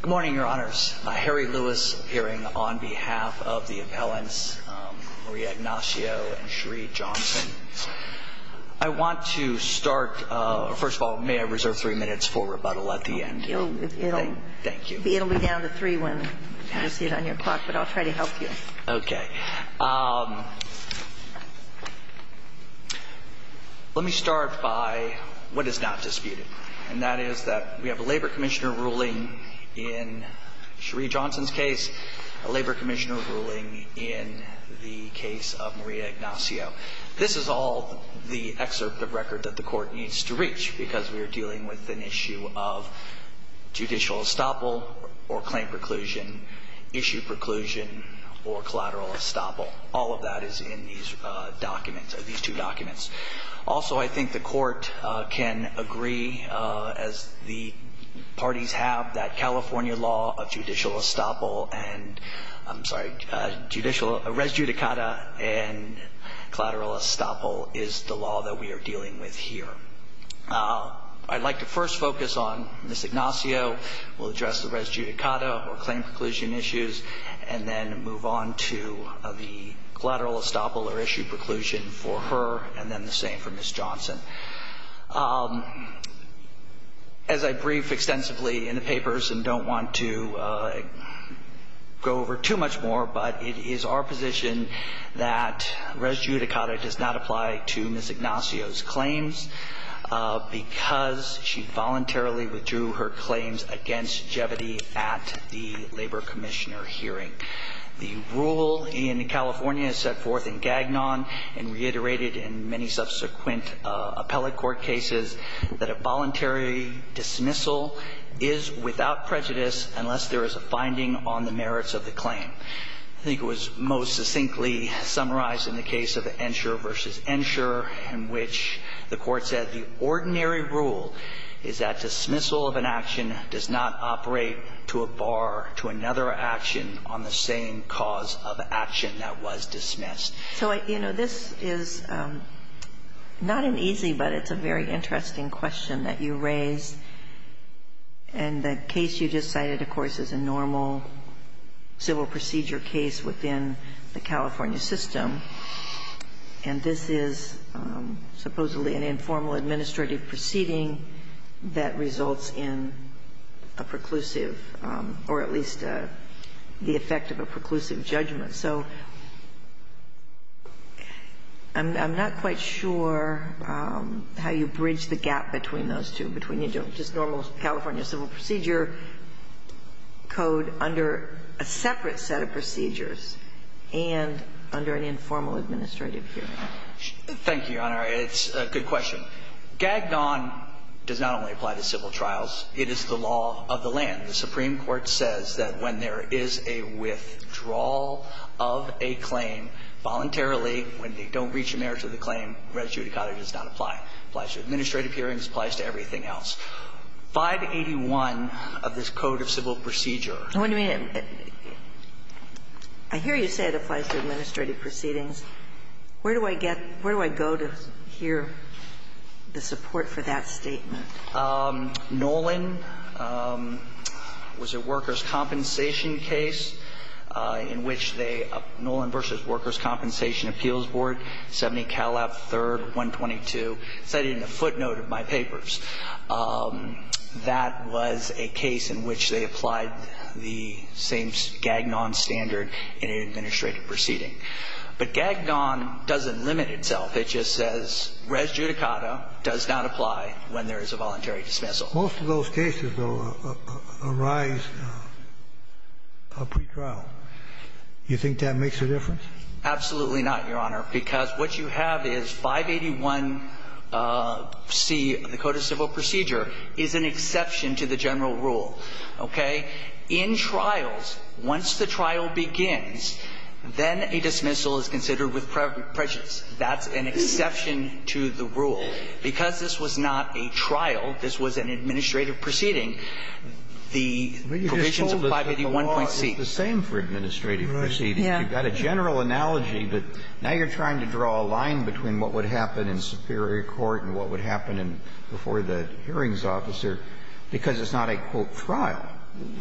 Good morning, Your Honors. Harry Lewis, appearing on behalf of the appellants Marie Ignacio and Cherie Johnson. I want to start, first of all, may I reserve three minutes for rebuttal at the end? Thank you. It'll be down to three when you see it on your clock, but I'll try to help you. Okay. Let me start by what is not disputed, and that is that we have a Labor Commissioner ruling in Cherie Johnson's case, a Labor Commissioner ruling in the case of Marie Ignacio. This is all the excerpt of record that the Court needs to reach because we are dealing with an issue of judicial estoppel or claim preclusion, issue preclusion or collateral estoppel. All of that is in these documents, these two documents. Also, I think the Court can agree, as the parties have, that California law of judicial estoppel and, I'm sorry, judicial res judicata and collateral estoppel is the law that we are dealing with here. I'd like to first focus on Ms. Ignacio. We'll address the res judicata or claim preclusion issues and then move on to the collateral estoppel or issue preclusion for her and then the same for Ms. Johnson. As I brief extensively in the papers and don't want to go over too much more, but it is our position that res judicata does not apply to Ms. Ignacio's claims because she voluntarily withdrew her claims against Jeviti at the Labor Commissioner hearing. The rule in California is set forth in Gagnon and reiterated in many subsequent appellate court cases that a voluntary dismissal is without prejudice unless there is a finding on the merits of the claim. I think it was most succinctly summarized in the case of Ensure v. Ensure in which the Court said the ordinary rule is that dismissal of an action does not operate to a bar to another action on the same cause of action that was dismissed. So, you know, this is not an easy, but it's a very interesting question that you raise. And the case you just cited, of course, is a normal civil procedure case within the California system. And this is supposedly an informal administrative proceeding that results in a preclusive or at least the effect of a preclusive judgment. So I'm not quite sure how you bridge the gap between those two, between just normal California civil procedure code under a separate set of procedures and under an informal administrative hearing. Thank you, Your Honor. It's a good question. Gagnon does not only apply to civil trials. It is the law of the land. The Supreme Court says that when there is a withdrawal of a claim voluntarily, when they don't reach the merits of the claim, res judicata does not apply. It applies to administrative hearings. It applies to everything else. 581 of this Code of Civil Procedure. I hear you say it applies to administrative proceedings. Where do I get – where do I go to hear the support for that statement? Nolan was a workers' compensation case in which they – Nolan v. Workers' Compensation Appeals Board, 70 Calab, 3rd, 122, cited in the footnote of my papers. That was a case in which they applied the same Gagnon standard in an administrative proceeding. But Gagnon doesn't limit itself. It just says res judicata does not apply when there is a voluntary dismissal. Most of those cases will arise a pretrial. You think that makes a difference? Absolutely not, Your Honor, because what you have is 581C of the Code of Civil Procedure is an exception to the general rule. Okay? In trials, once the trial begins, then a dismissal is considered with prejudice. That's an exception to the rule. Because this was not a trial, this was an administrative proceeding, the provisions But you just told us that the law is the same for administrative proceedings. Right. Yeah. You've got a general analogy, but now you're trying to draw a line between what would happen in superior court and what would happen before the hearings officer because it's not a, quote, trial.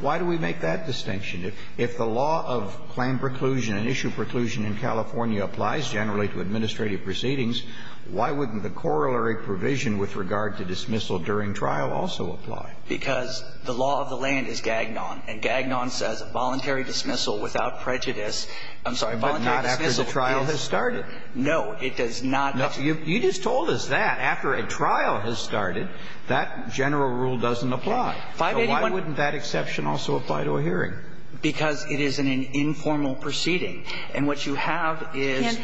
Why do we make that distinction? If the law of claim preclusion and issue preclusion in California applies generally to administrative proceedings, why wouldn't the corollary provision with regard to dismissal during trial also apply? Because the law of the land is Gagnon, and Gagnon says voluntary dismissal without prejudice. I'm sorry. But not after the trial has started. No, it does not. You just told us that. After a trial has started, that general rule doesn't apply. So why wouldn't that exception also apply to a hearing? Because it is an informal proceeding. And what you have is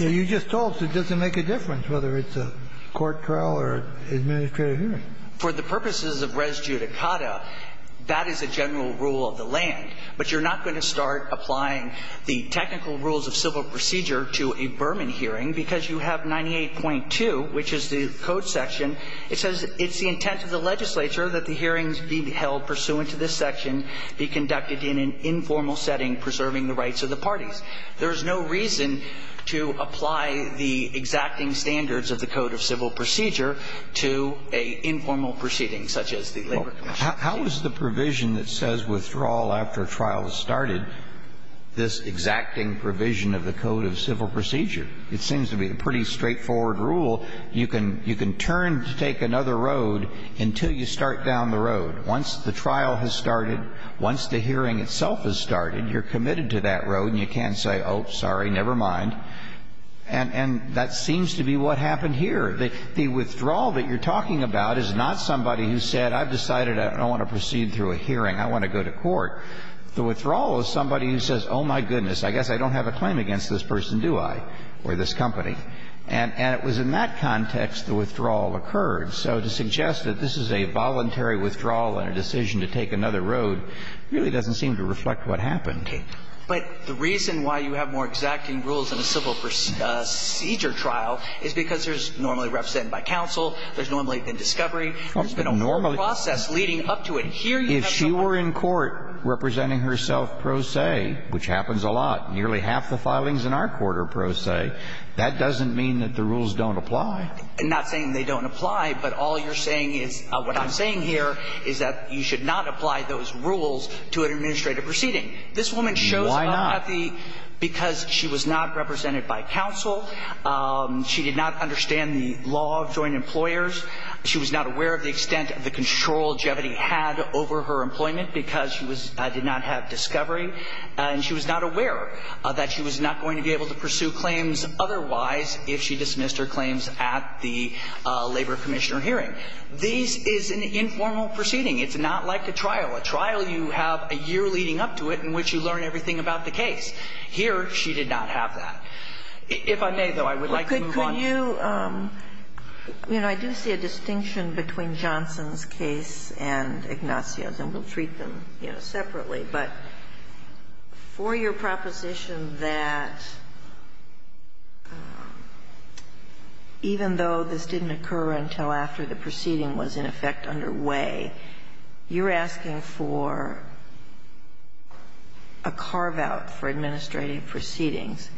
you just told us it doesn't make a difference whether it's a court trial or administrative hearing. For the purposes of res judicata, that is a general rule of the land. But you're not going to start applying the technical rules of civil procedure to a Berman hearing because you have 98.2, which is the code section. It says it's the intent of the legislature that the hearings being held pursuant to this section be conducted in an informal setting preserving the rights of the parties. There is no reason to apply the exacting standards of the code of civil procedure to an informal proceeding such as the labor commission. How is the provision that says withdrawal after trial has started this exacting provision of the code of civil procedure? It seems to be a pretty straightforward rule. You can turn to take another road until you start down the road. Once the trial has started, once the hearing itself has started, you're committed to that road and you can't say, oh, sorry, never mind. And that seems to be what happened here. The withdrawal that you're talking about is not somebody who said I've decided I don't want to proceed through a hearing. I want to go to court. The withdrawal is somebody who says, oh, my goodness, I guess I don't have a claim against this person, do I, or this company. And it was in that context the withdrawal occurred. So to suggest that this is a voluntary withdrawal and a decision to take another road really doesn't seem to reflect what happened. But the reason why you have more exacting rules in a civil procedure trial is because there's normally represented by counsel, there's normally been discovery, there's been a process leading up to it. If she were in court representing herself pro se, which happens a lot, nearly half the filings in our court are pro se, that doesn't mean that the rules don't apply. I'm not saying they don't apply, but all you're saying is, what I'm saying here is that you should not apply those rules to an administrative proceeding. Why not? This woman shows up because she was not represented by counsel. She did not understand the law of joint employers. She was not aware of the extent of the control Jevity had over her employment because she did not have discovery. And she was not aware that she was not going to be able to pursue claims otherwise if she dismissed her claims at the labor commissioner hearing. This is an informal proceeding. It's not like a trial. A trial, you have a year leading up to it in which you learn everything about the case. Here, she did not have that. If I may, though, I would like to move on. Sotomayor, I do see a distinction between Johnson's case and Ignacio's, and we'll treat them separately. But for your proposition that even though this didn't occur until after the proceeding was, in effect, underway, you're asking for a carve-out for administrative proceedings.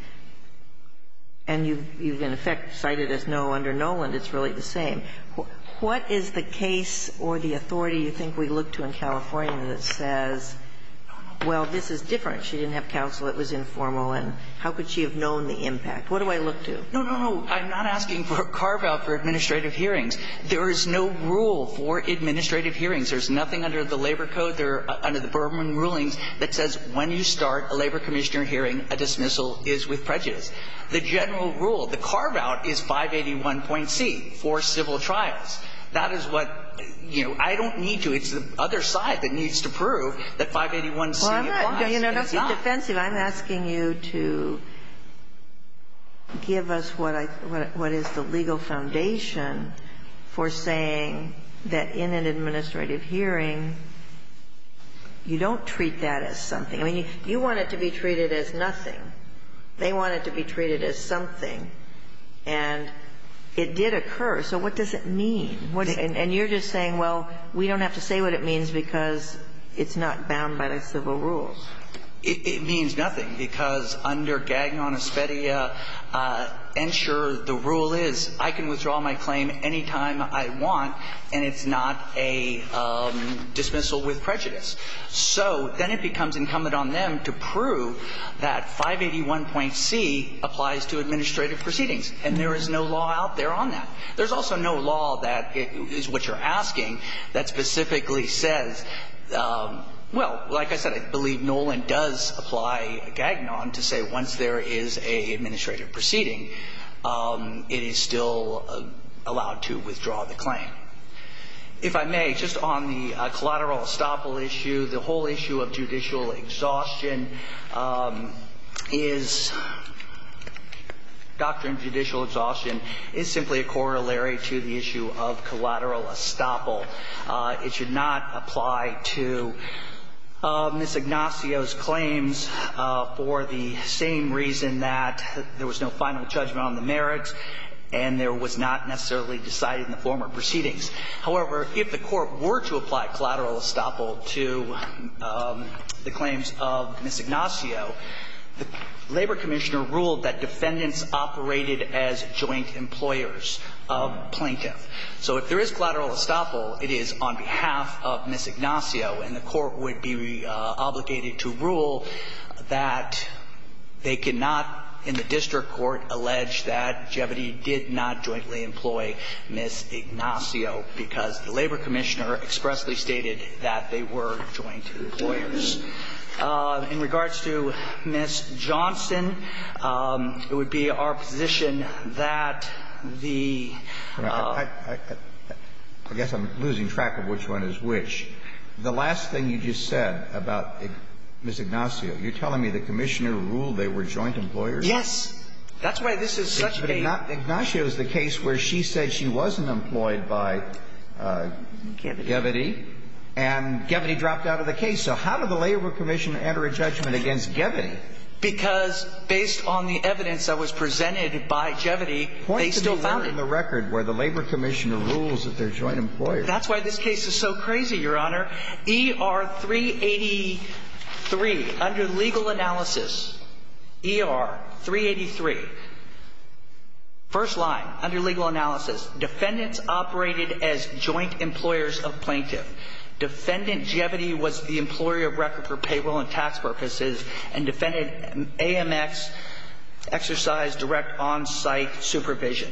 And you've, in effect, cited as no under Noland. It's really the same. What is the case or the authority you think we look to in California that says, well, this is different. She didn't have counsel. It was informal. And how could she have known the impact? What do I look to? No, no, no. I'm not asking for a carve-out for administrative hearings. There is no rule for administrative hearings. There's nothing under the Labor Code or under the Berman rulings that says when you start a labor commissioner hearing, a dismissal is with prejudice. The general rule, the carve-out is 581.C for civil trials. That is what, you know, I don't need to. It's the other side that needs to prove that 581C applies. It's not. Well, I'm not being defensive. I'm asking you to give us what is the legal foundation for saying that in an administrative hearing, you don't treat that as something. I mean, you want it to be treated as nothing. They want it to be treated as something. And it did occur. So what does it mean? And you're just saying, well, we don't have to say what it means because it's not bound by the civil rules. It means nothing, because under Gagnon-Espedia, ensure the rule is I can withdraw my claim any time I want, and it's not a dismissal with prejudice. So then it becomes incumbent on them to prove that 581.C applies to administrative proceedings, and there is no law out there on that. There's also no law that is what you're asking that specifically says, well, like I said, I believe Nolan does apply Gagnon to say once there is an administrative proceeding, it is still allowed to withdraw the claim. If I may, just on the collateral estoppel issue, the whole issue of judicial exhaustion is doctrine of judicial exhaustion is simply a corollary to the issue of collateral estoppel. It should not apply to Ms. Ignacio's claims for the same reason that there was no final judgment on the merits and there was not necessarily decided in the former proceedings. However, if the Court were to apply collateral estoppel to the claims of Ms. Ignacio, the Labor Commissioner ruled that defendants operated as joint employers of plaintiff. So if there is collateral estoppel, it is on behalf of Ms. Ignacio, and the Court would be obligated to rule that they cannot in the district court allege that Jevedi did not jointly employ Ms. Ignacio because the Labor Commissioner expressly stated that they were joint employers. In regards to Ms. Johnston, it would be our position that the ---- Kennedy, I guess I'm losing track of which one is which. The last thing you just said about Ms. Ignacio, you're telling me the Commissioner ruled they were joint employers? Yes. That's why this is such a big ---- But Ignacio is the case where she said she wasn't employed by Jevedi. Jevedi. And Jevedi dropped out of the case. So how did the Labor Commissioner enter a judgment against Jevedi? Because based on the evidence that was presented by Jevedi, they still found it. Point to me where in the record where the Labor Commissioner rules that they're joint employers. That's why this case is so crazy, Your Honor. ER 383, under legal analysis. ER 383. First line, under legal analysis. Defendants operated as joint employers of Plaintiff. Defendant Jevedi was the employee of record for payroll and tax purposes and defended AMX exercise direct on-site supervision.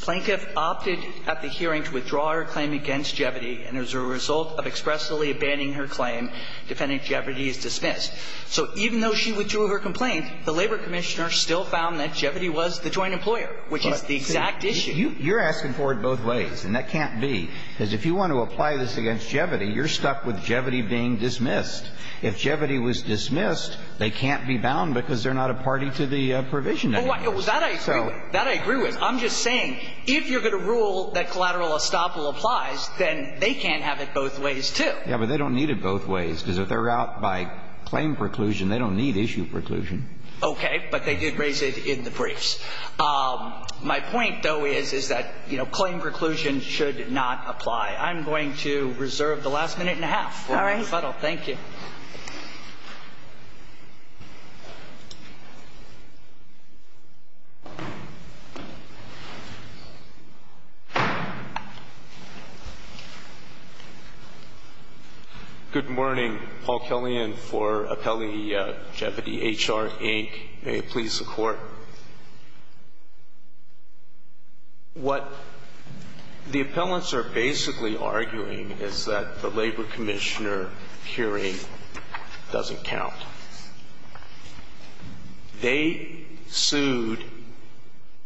Plaintiff opted at the hearing to withdraw her claim against Jevedi and as a result of expressly abandoning her claim, defendant Jevedi is dismissed. So even though she withdrew her complaint, the Labor Commissioner still found that Jevedi was the joint employer, which is the exact issue. You're asking for it both ways, and that can't be, because if you want to apply this against Jevedi, you're stuck with Jevedi being dismissed. If Jevedi was dismissed, they can't be bound because they're not a party to the provision. That I agree with. I'm just saying, if you're going to rule that collateral estoppel applies, then they can't have it both ways, too. Yeah, but they don't need it both ways, because if they're out by claim preclusion, they don't need issue preclusion. Okay, but they did raise it in the briefs. My point, though, is that claim preclusion should not apply. I'm going to reserve the last minute and a half. All right. Thank you. Good morning. Paul Killian for Appellee Jevedi, HR, Inc. May it please the Court. What the appellants are basically arguing is that the Labor Commissioner hearing doesn't count. They sued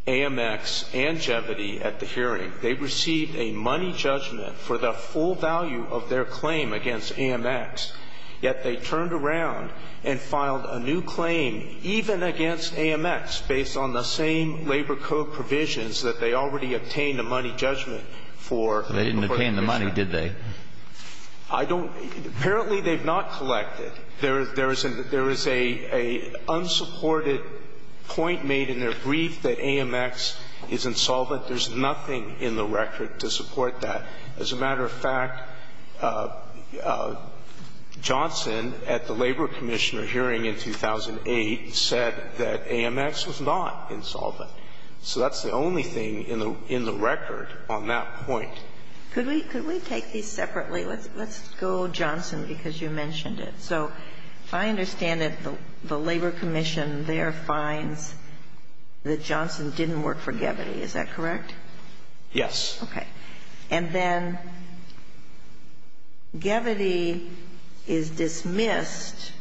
AMX and Jevedi at the hearing. They received a money judgment for the full value of their claim against AMX, yet they turned around and filed a new claim, even against AMX, based on the same Labor Code provisions that they already obtained a money judgment for. They didn't obtain the money, did they? I don't – apparently they've not collected. There is a unsupported point made in their brief that AMX is insolvent. There's nothing in the record to support that. As a matter of fact, Johnson, at the Labor Commissioner hearing in 2008, said that AMX was not insolvent. So that's the only thing in the record on that point. Could we take these separately? Let's go Johnson, because you mentioned it. So I understand that the Labor Commission there finds that Johnson didn't work for Jevedi. Is that correct? Yes. Okay. And then Jevedi is dismissed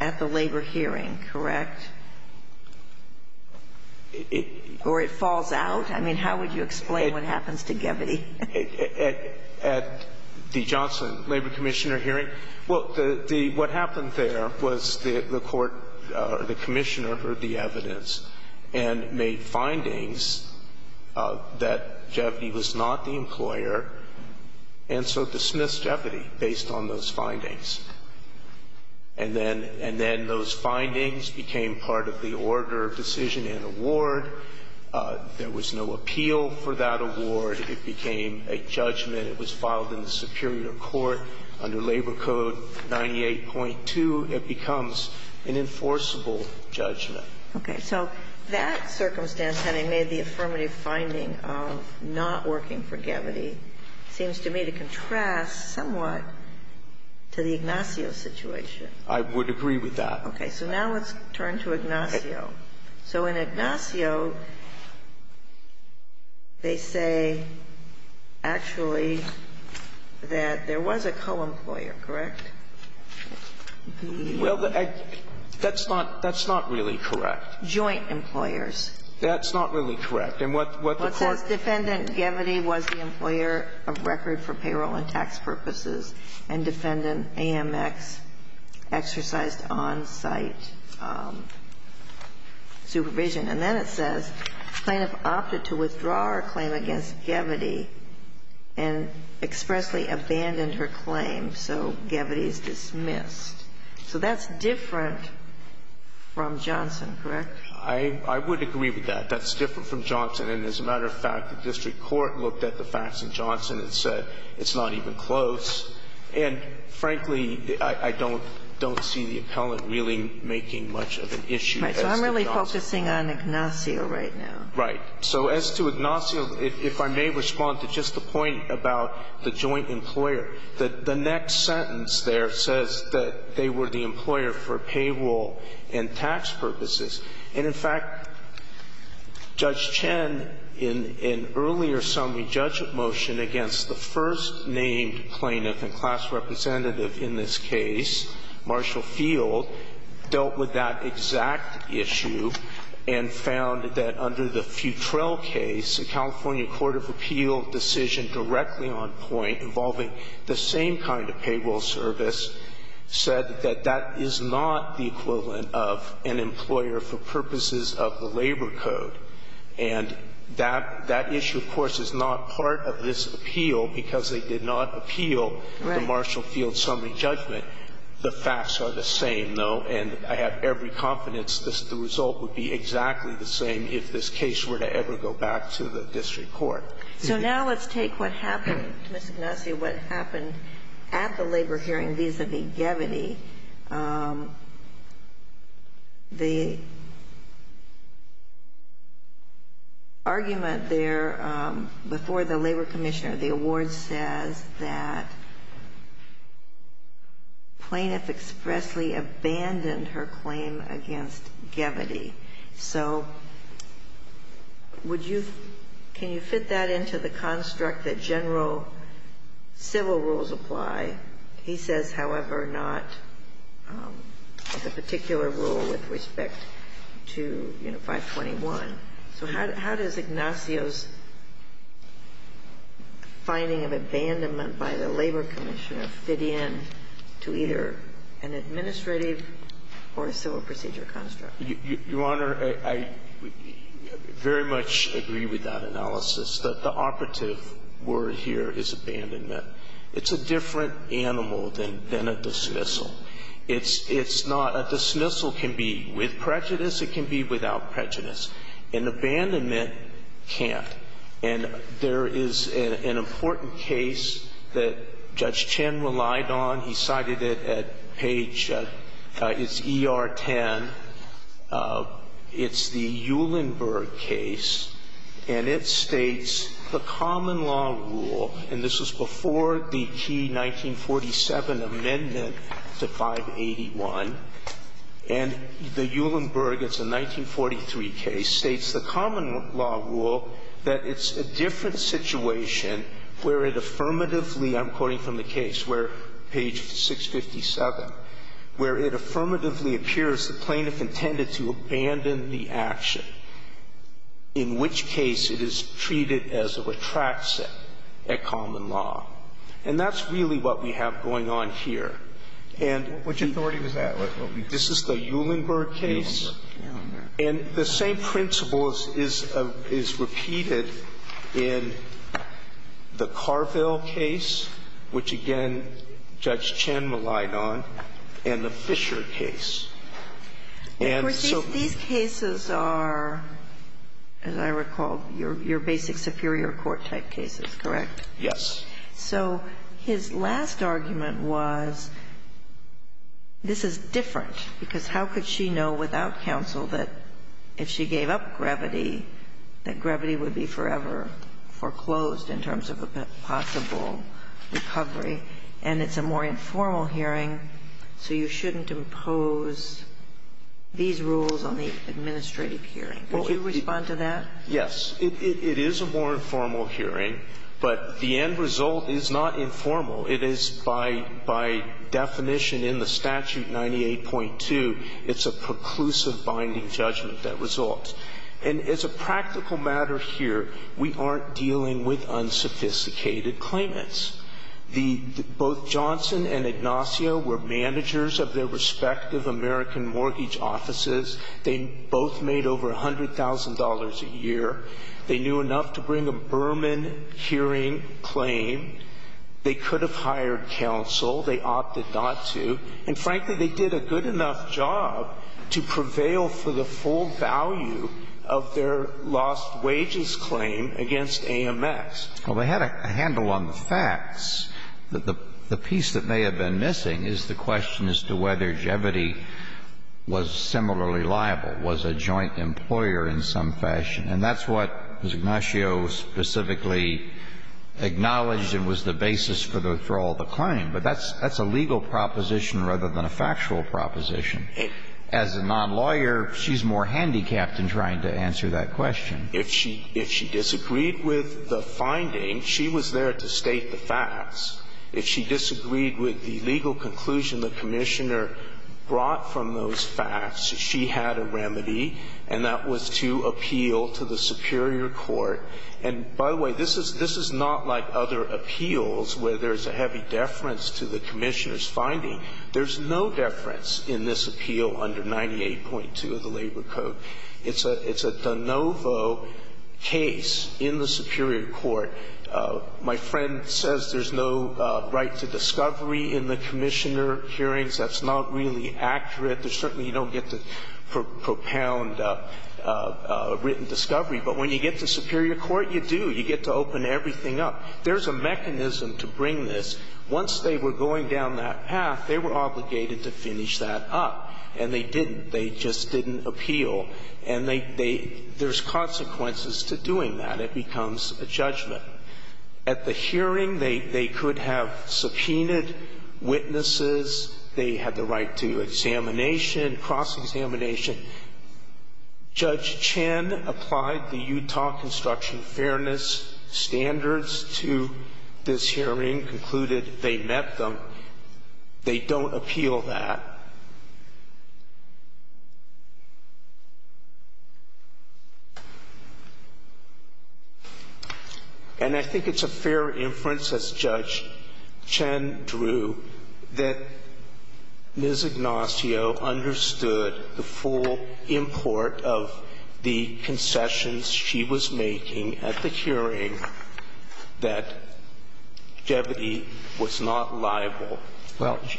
at the Labor hearing, correct? Or it falls out? I mean, how would you explain what happens to Jevedi? At the Johnson Labor Commissioner hearing? Well, the – what happened there was the court or the commissioner heard the evidence and made findings that Jevedi was not the employer, and so dismissed Jevedi based on those findings. And then those findings became part of the order of decision and award. There was no appeal for that award. It became a judgment. It was filed in the superior court under Labor Code 98.2. It becomes an enforceable judgment. Okay. So that circumstance, having made the affirmative finding of not working for Jevedi, seems to me to contrast somewhat to the Ignacio situation. I would agree with that. So now let's turn to Ignacio. So in Ignacio, they say actually that there was a co-employer, correct? Well, that's not – that's not really correct. Joint employers. That's not really correct. And what the court – What says defendant Jevedi was the employer of record for payroll and tax purposes and defendant AMX exercised on-site supervision. And then it says, plaintiff opted to withdraw her claim against Jevedi and expressly abandoned her claim. So Jevedi is dismissed. So that's different from Johnson, correct? I would agree with that. That's different from Johnson. And as a matter of fact, the district court looked at the facts in Johnson and said it's not even close. And frankly, I don't see the appellant really making much of an issue. Right. So I'm really focusing on Ignacio right now. Right. So as to Ignacio, if I may respond to just the point about the joint employer, the next sentence there says that they were the employer for payroll and tax purposes. And, in fact, Judge Chen, in an earlier summary judgment motion against the first named plaintiff and class representative in this case, Marshall Field, dealt with that exact issue and found that under the Futrell case, a California court of appeal decision directly on point involving the same kind of payroll service said that that is not the equivalent of an employer for purposes of the labor code. And that issue, of course, is not part of this appeal because they did not appeal the Marshall Field summary judgment. Right. The facts are the same, though, and I have every confidence the result would be exactly the same if this case were to ever go back to the district court. So now let's take what happened to Mr. Ignacio, what happened at the labor hearing vis-à-vis Gevity. The argument there before the labor commissioner, the award says that plaintiff expressly abandoned her claim against Gevity. So would you, can you fit that into the construct that general civil rules apply? He says, however, not the particular rule with respect to, you know, 521. So how does Ignacio's finding of abandonment by the labor commissioner fit in to either an administrative or a civil procedure construct? Your Honor, I very much agree with that analysis. The operative word here is abandonment. It's a different animal than a dismissal. It's not – a dismissal can be with prejudice, it can be without prejudice. An abandonment can't. And there is an important case that Judge Chin relied on. He cited it at page – it's ER 10. It's the Uhlenberg case. And it states the common law rule, and this was before the key 1947 amendment to 581, and the Uhlenberg, it's a 1943 case, states the common law rule that it's a different situation where it affirmatively – I'm quoting from the case where it affirmatively appears the plaintiff intended to abandon the action, in which case it is treated as a retraction at common law. And that's really what we have going on here. And the – Which authority was that? This is the Uhlenberg case. Uhlenberg, yeah. And the Fischer case. And so – These cases are, as I recall, your basic superior court type cases, correct? Yes. So his last argument was this is different, because how could she know without counsel that if she gave up gravity, that gravity would be forever foreclosed in terms of a possible recovery? And that's a more informal hearing, so you shouldn't impose these rules on the administrative hearing. Would you respond to that? Yes. It is a more informal hearing, but the end result is not informal. It is, by definition in the statute 98.2, it's a preclusive binding judgment that results. And as a practical matter here, we aren't dealing with unsophisticated claimants. Both Johnson and Ignacio were managers of their respective American mortgage offices. They both made over $100,000 a year. They knew enough to bring a Berman hearing claim. They could have hired counsel. They opted not to. And frankly, they did a good enough job to prevail for the full value of their lost wages claim against AMX. Well, they had a handle on the facts. The piece that may have been missing is the question as to whether Jeviti was similarly liable, was a joint employer in some fashion. And that's what Ignacio specifically acknowledged and was the basis for the thrall of the claim. But that's a legal proposition rather than a factual proposition. As a nonlawyer, she's more handicapped in trying to answer that question. If she disagreed with the finding, she was there to state the facts. If she disagreed with the legal conclusion the Commissioner brought from those facts, she had a remedy, and that was to appeal to the superior court. And by the way, this is not like other appeals where there's a heavy deference to the Commissioner's finding. There's no deference in this appeal under 98.2 of the Labor Code. It's a de novo case in the superior court. My friend says there's no right to discovery in the Commissioner hearings. That's not really accurate. There's certainly you don't get to propound written discovery. But when you get to superior court, you do. You get to open everything up. There's a mechanism to bring this. Once they were going down that path, they were obligated to finish that up. And they didn't. They just didn't appeal. And there's consequences to doing that. It becomes a judgment. At the hearing, they could have subpoenaed witnesses. They had the right to examination, cross-examination. Judge Chen applied the Utah Construction Fairness standards to this hearing, concluded they met them. They don't appeal that. And I think it's a fair inference, as Judge Chen drew, that Ms. Ignacio understood the full import of the concessions she was making at the hearing that Jeviti was not liable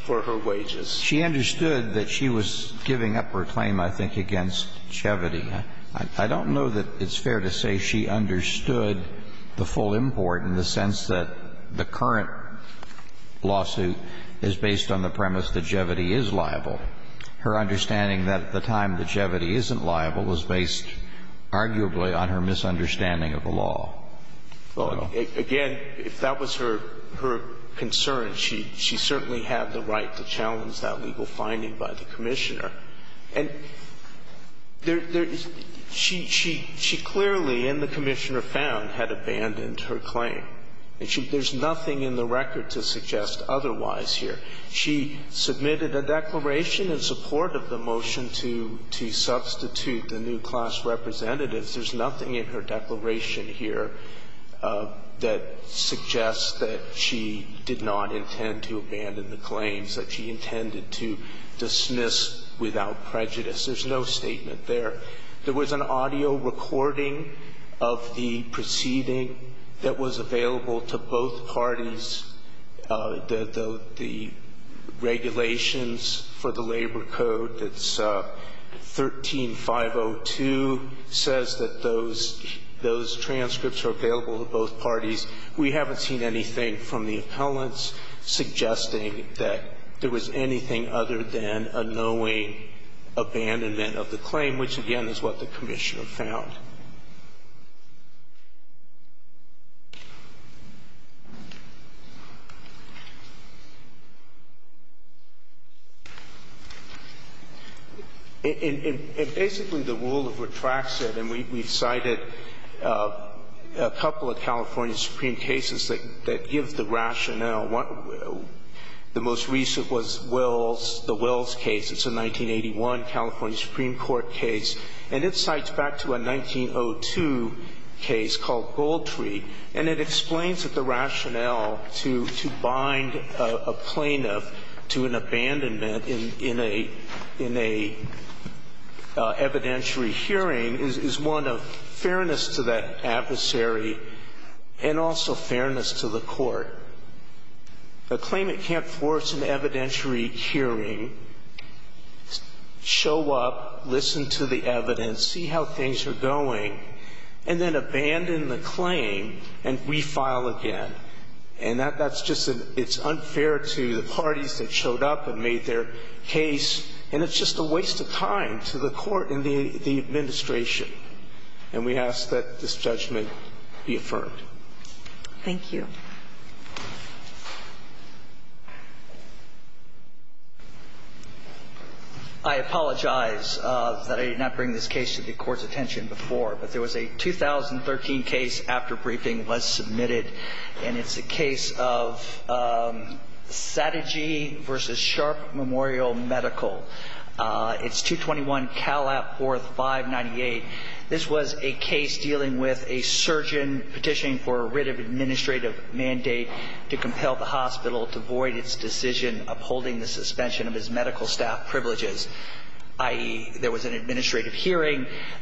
for her wages. Well, she understood that she was giving up her claim, I think, against Jeviti. I don't know that it's fair to say she understood the full import in the sense that the current lawsuit is based on the premise that Jeviti is liable. Her understanding that at the time that Jeviti isn't liable was based arguably on her misunderstanding of the law. Well, again, if that was her concern, she certainly had the right to challenge that legal finding by the Commissioner. And she clearly, and the Commissioner found, had abandoned her claim. There's nothing in the record to suggest otherwise here. She submitted a declaration in support of the motion to substitute the new class representatives. There's nothing in her declaration here that suggests that she did not intend to abandon the claims that she intended to dismiss without prejudice. There's no statement there. There was an audio recording of the proceeding that was available to both parties. The regulations for the labor code that's 13-502 says that those transcripts are available to both parties. We haven't seen anything from the appellants suggesting that there was anything other than a knowing abandonment of the claim, which, again, is what the Commissioner found. And basically, the rule retracts it, and we've cited a couple of California Supreme cases that give the rationale. The most recent was the Wills case. It's a 1981 California Supreme Court case, and it cites back to a 1981 California Supreme Court case. And it explains that the rationale to bind a plaintiff to an abandonment in a evidentiary hearing is one of fairness to that adversary and also fairness to the court. A claimant can't force an evidentiary hearing, show up, listen to the evidence, see how things are going, and then abandon the claim and refile again. And that's just unfair to the parties that showed up and made their case, and it's just a waste of time to the court and the administration. And we ask that this judgment be affirmed. Thank you. I apologize that I did not bring this case to the court's attention before, but there was a 2013 case after briefing was submitted, and it's a case of Satigy v. Sharp Memorial Medical. It's 221 Calapworth 598. This was a case dealing with a surgeon petitioning for a writ of administrative medication. The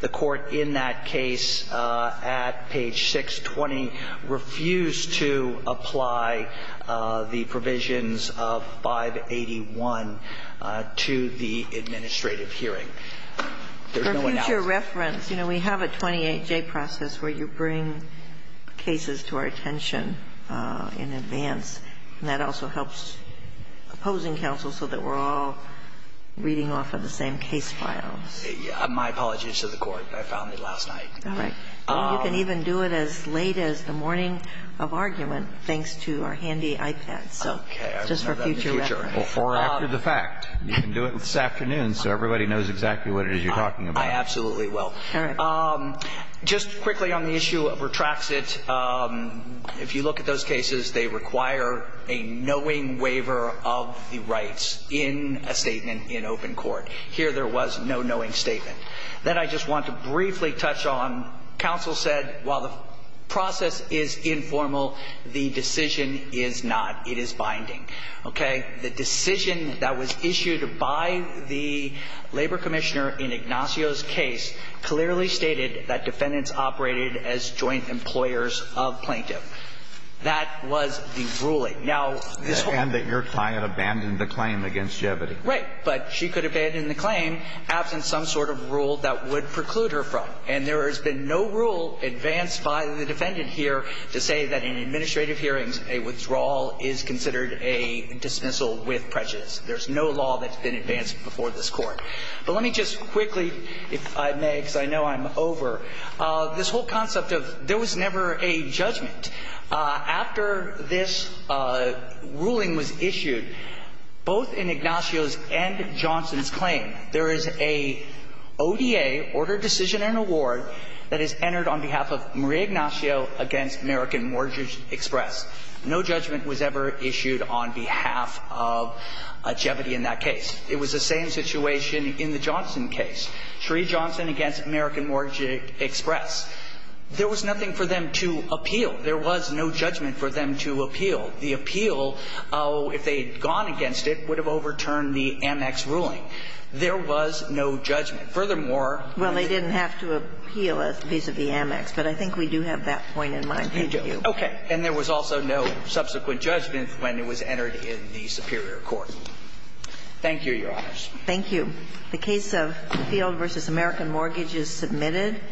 court in that case at page 620 refused to apply the provisions of 581 to the administrative hearing. There's no announcement. For future reference, you know, we have a 28J process where you bring cases to our attention. And that also helps opposing counsel so that we're all reading off of the same case file. My apologies to the court. I found it last night. All right. You can even do it as late as the morning of argument, thanks to our handy iPads. Okay. Just for future reference. Before or after the fact. You can do it this afternoon so everybody knows exactly what it is you're talking about. I absolutely will. All right. Just quickly on the issue of retracts it, if you look at those cases, they require a knowing waiver of the rights in a statement in open court. Here there was no knowing statement. Then I just want to briefly touch on counsel said while the process is informal, the decision is not. It is binding. Okay. The decision that was issued by the labor commissioner in Ignacio's case clearly stated that defendants operated as joint employers of plaintiff. That was the ruling. Now, this whole. And that your client abandoned the claim against Jevity. Right. But she could abandon the claim absent some sort of rule that would preclude her from. And there has been no rule advanced by the defendant here to say that in administrative hearings a withdrawal is considered a dismissal with prejudice. There's no law that's been advanced before this court. But let me just quickly, if I may, because I know I'm over, this whole concept of there was never a judgment. After this ruling was issued, both in Ignacio's and Johnson's claim, there is a ODA, order, decision, and award that is entered on behalf of Marie Ignacio against American Mortgage Express. No judgment was ever issued on behalf of Jevity in that case. It was the same situation in the Johnson case. Shree Johnson against American Mortgage Express. There was nothing for them to appeal. There was no judgment for them to appeal. The appeal, if they had gone against it, would have overturned the Amex ruling. There was no judgment. Furthermore. Well, they didn't have to appeal it vis-à-vis Amex, but I think we do have that point in mind, thank you. Okay. And there was also no subsequent judgment when it was entered in the superior Thank you, Your Honors. Thank you. The case of Field v. American Mortgage is submitted.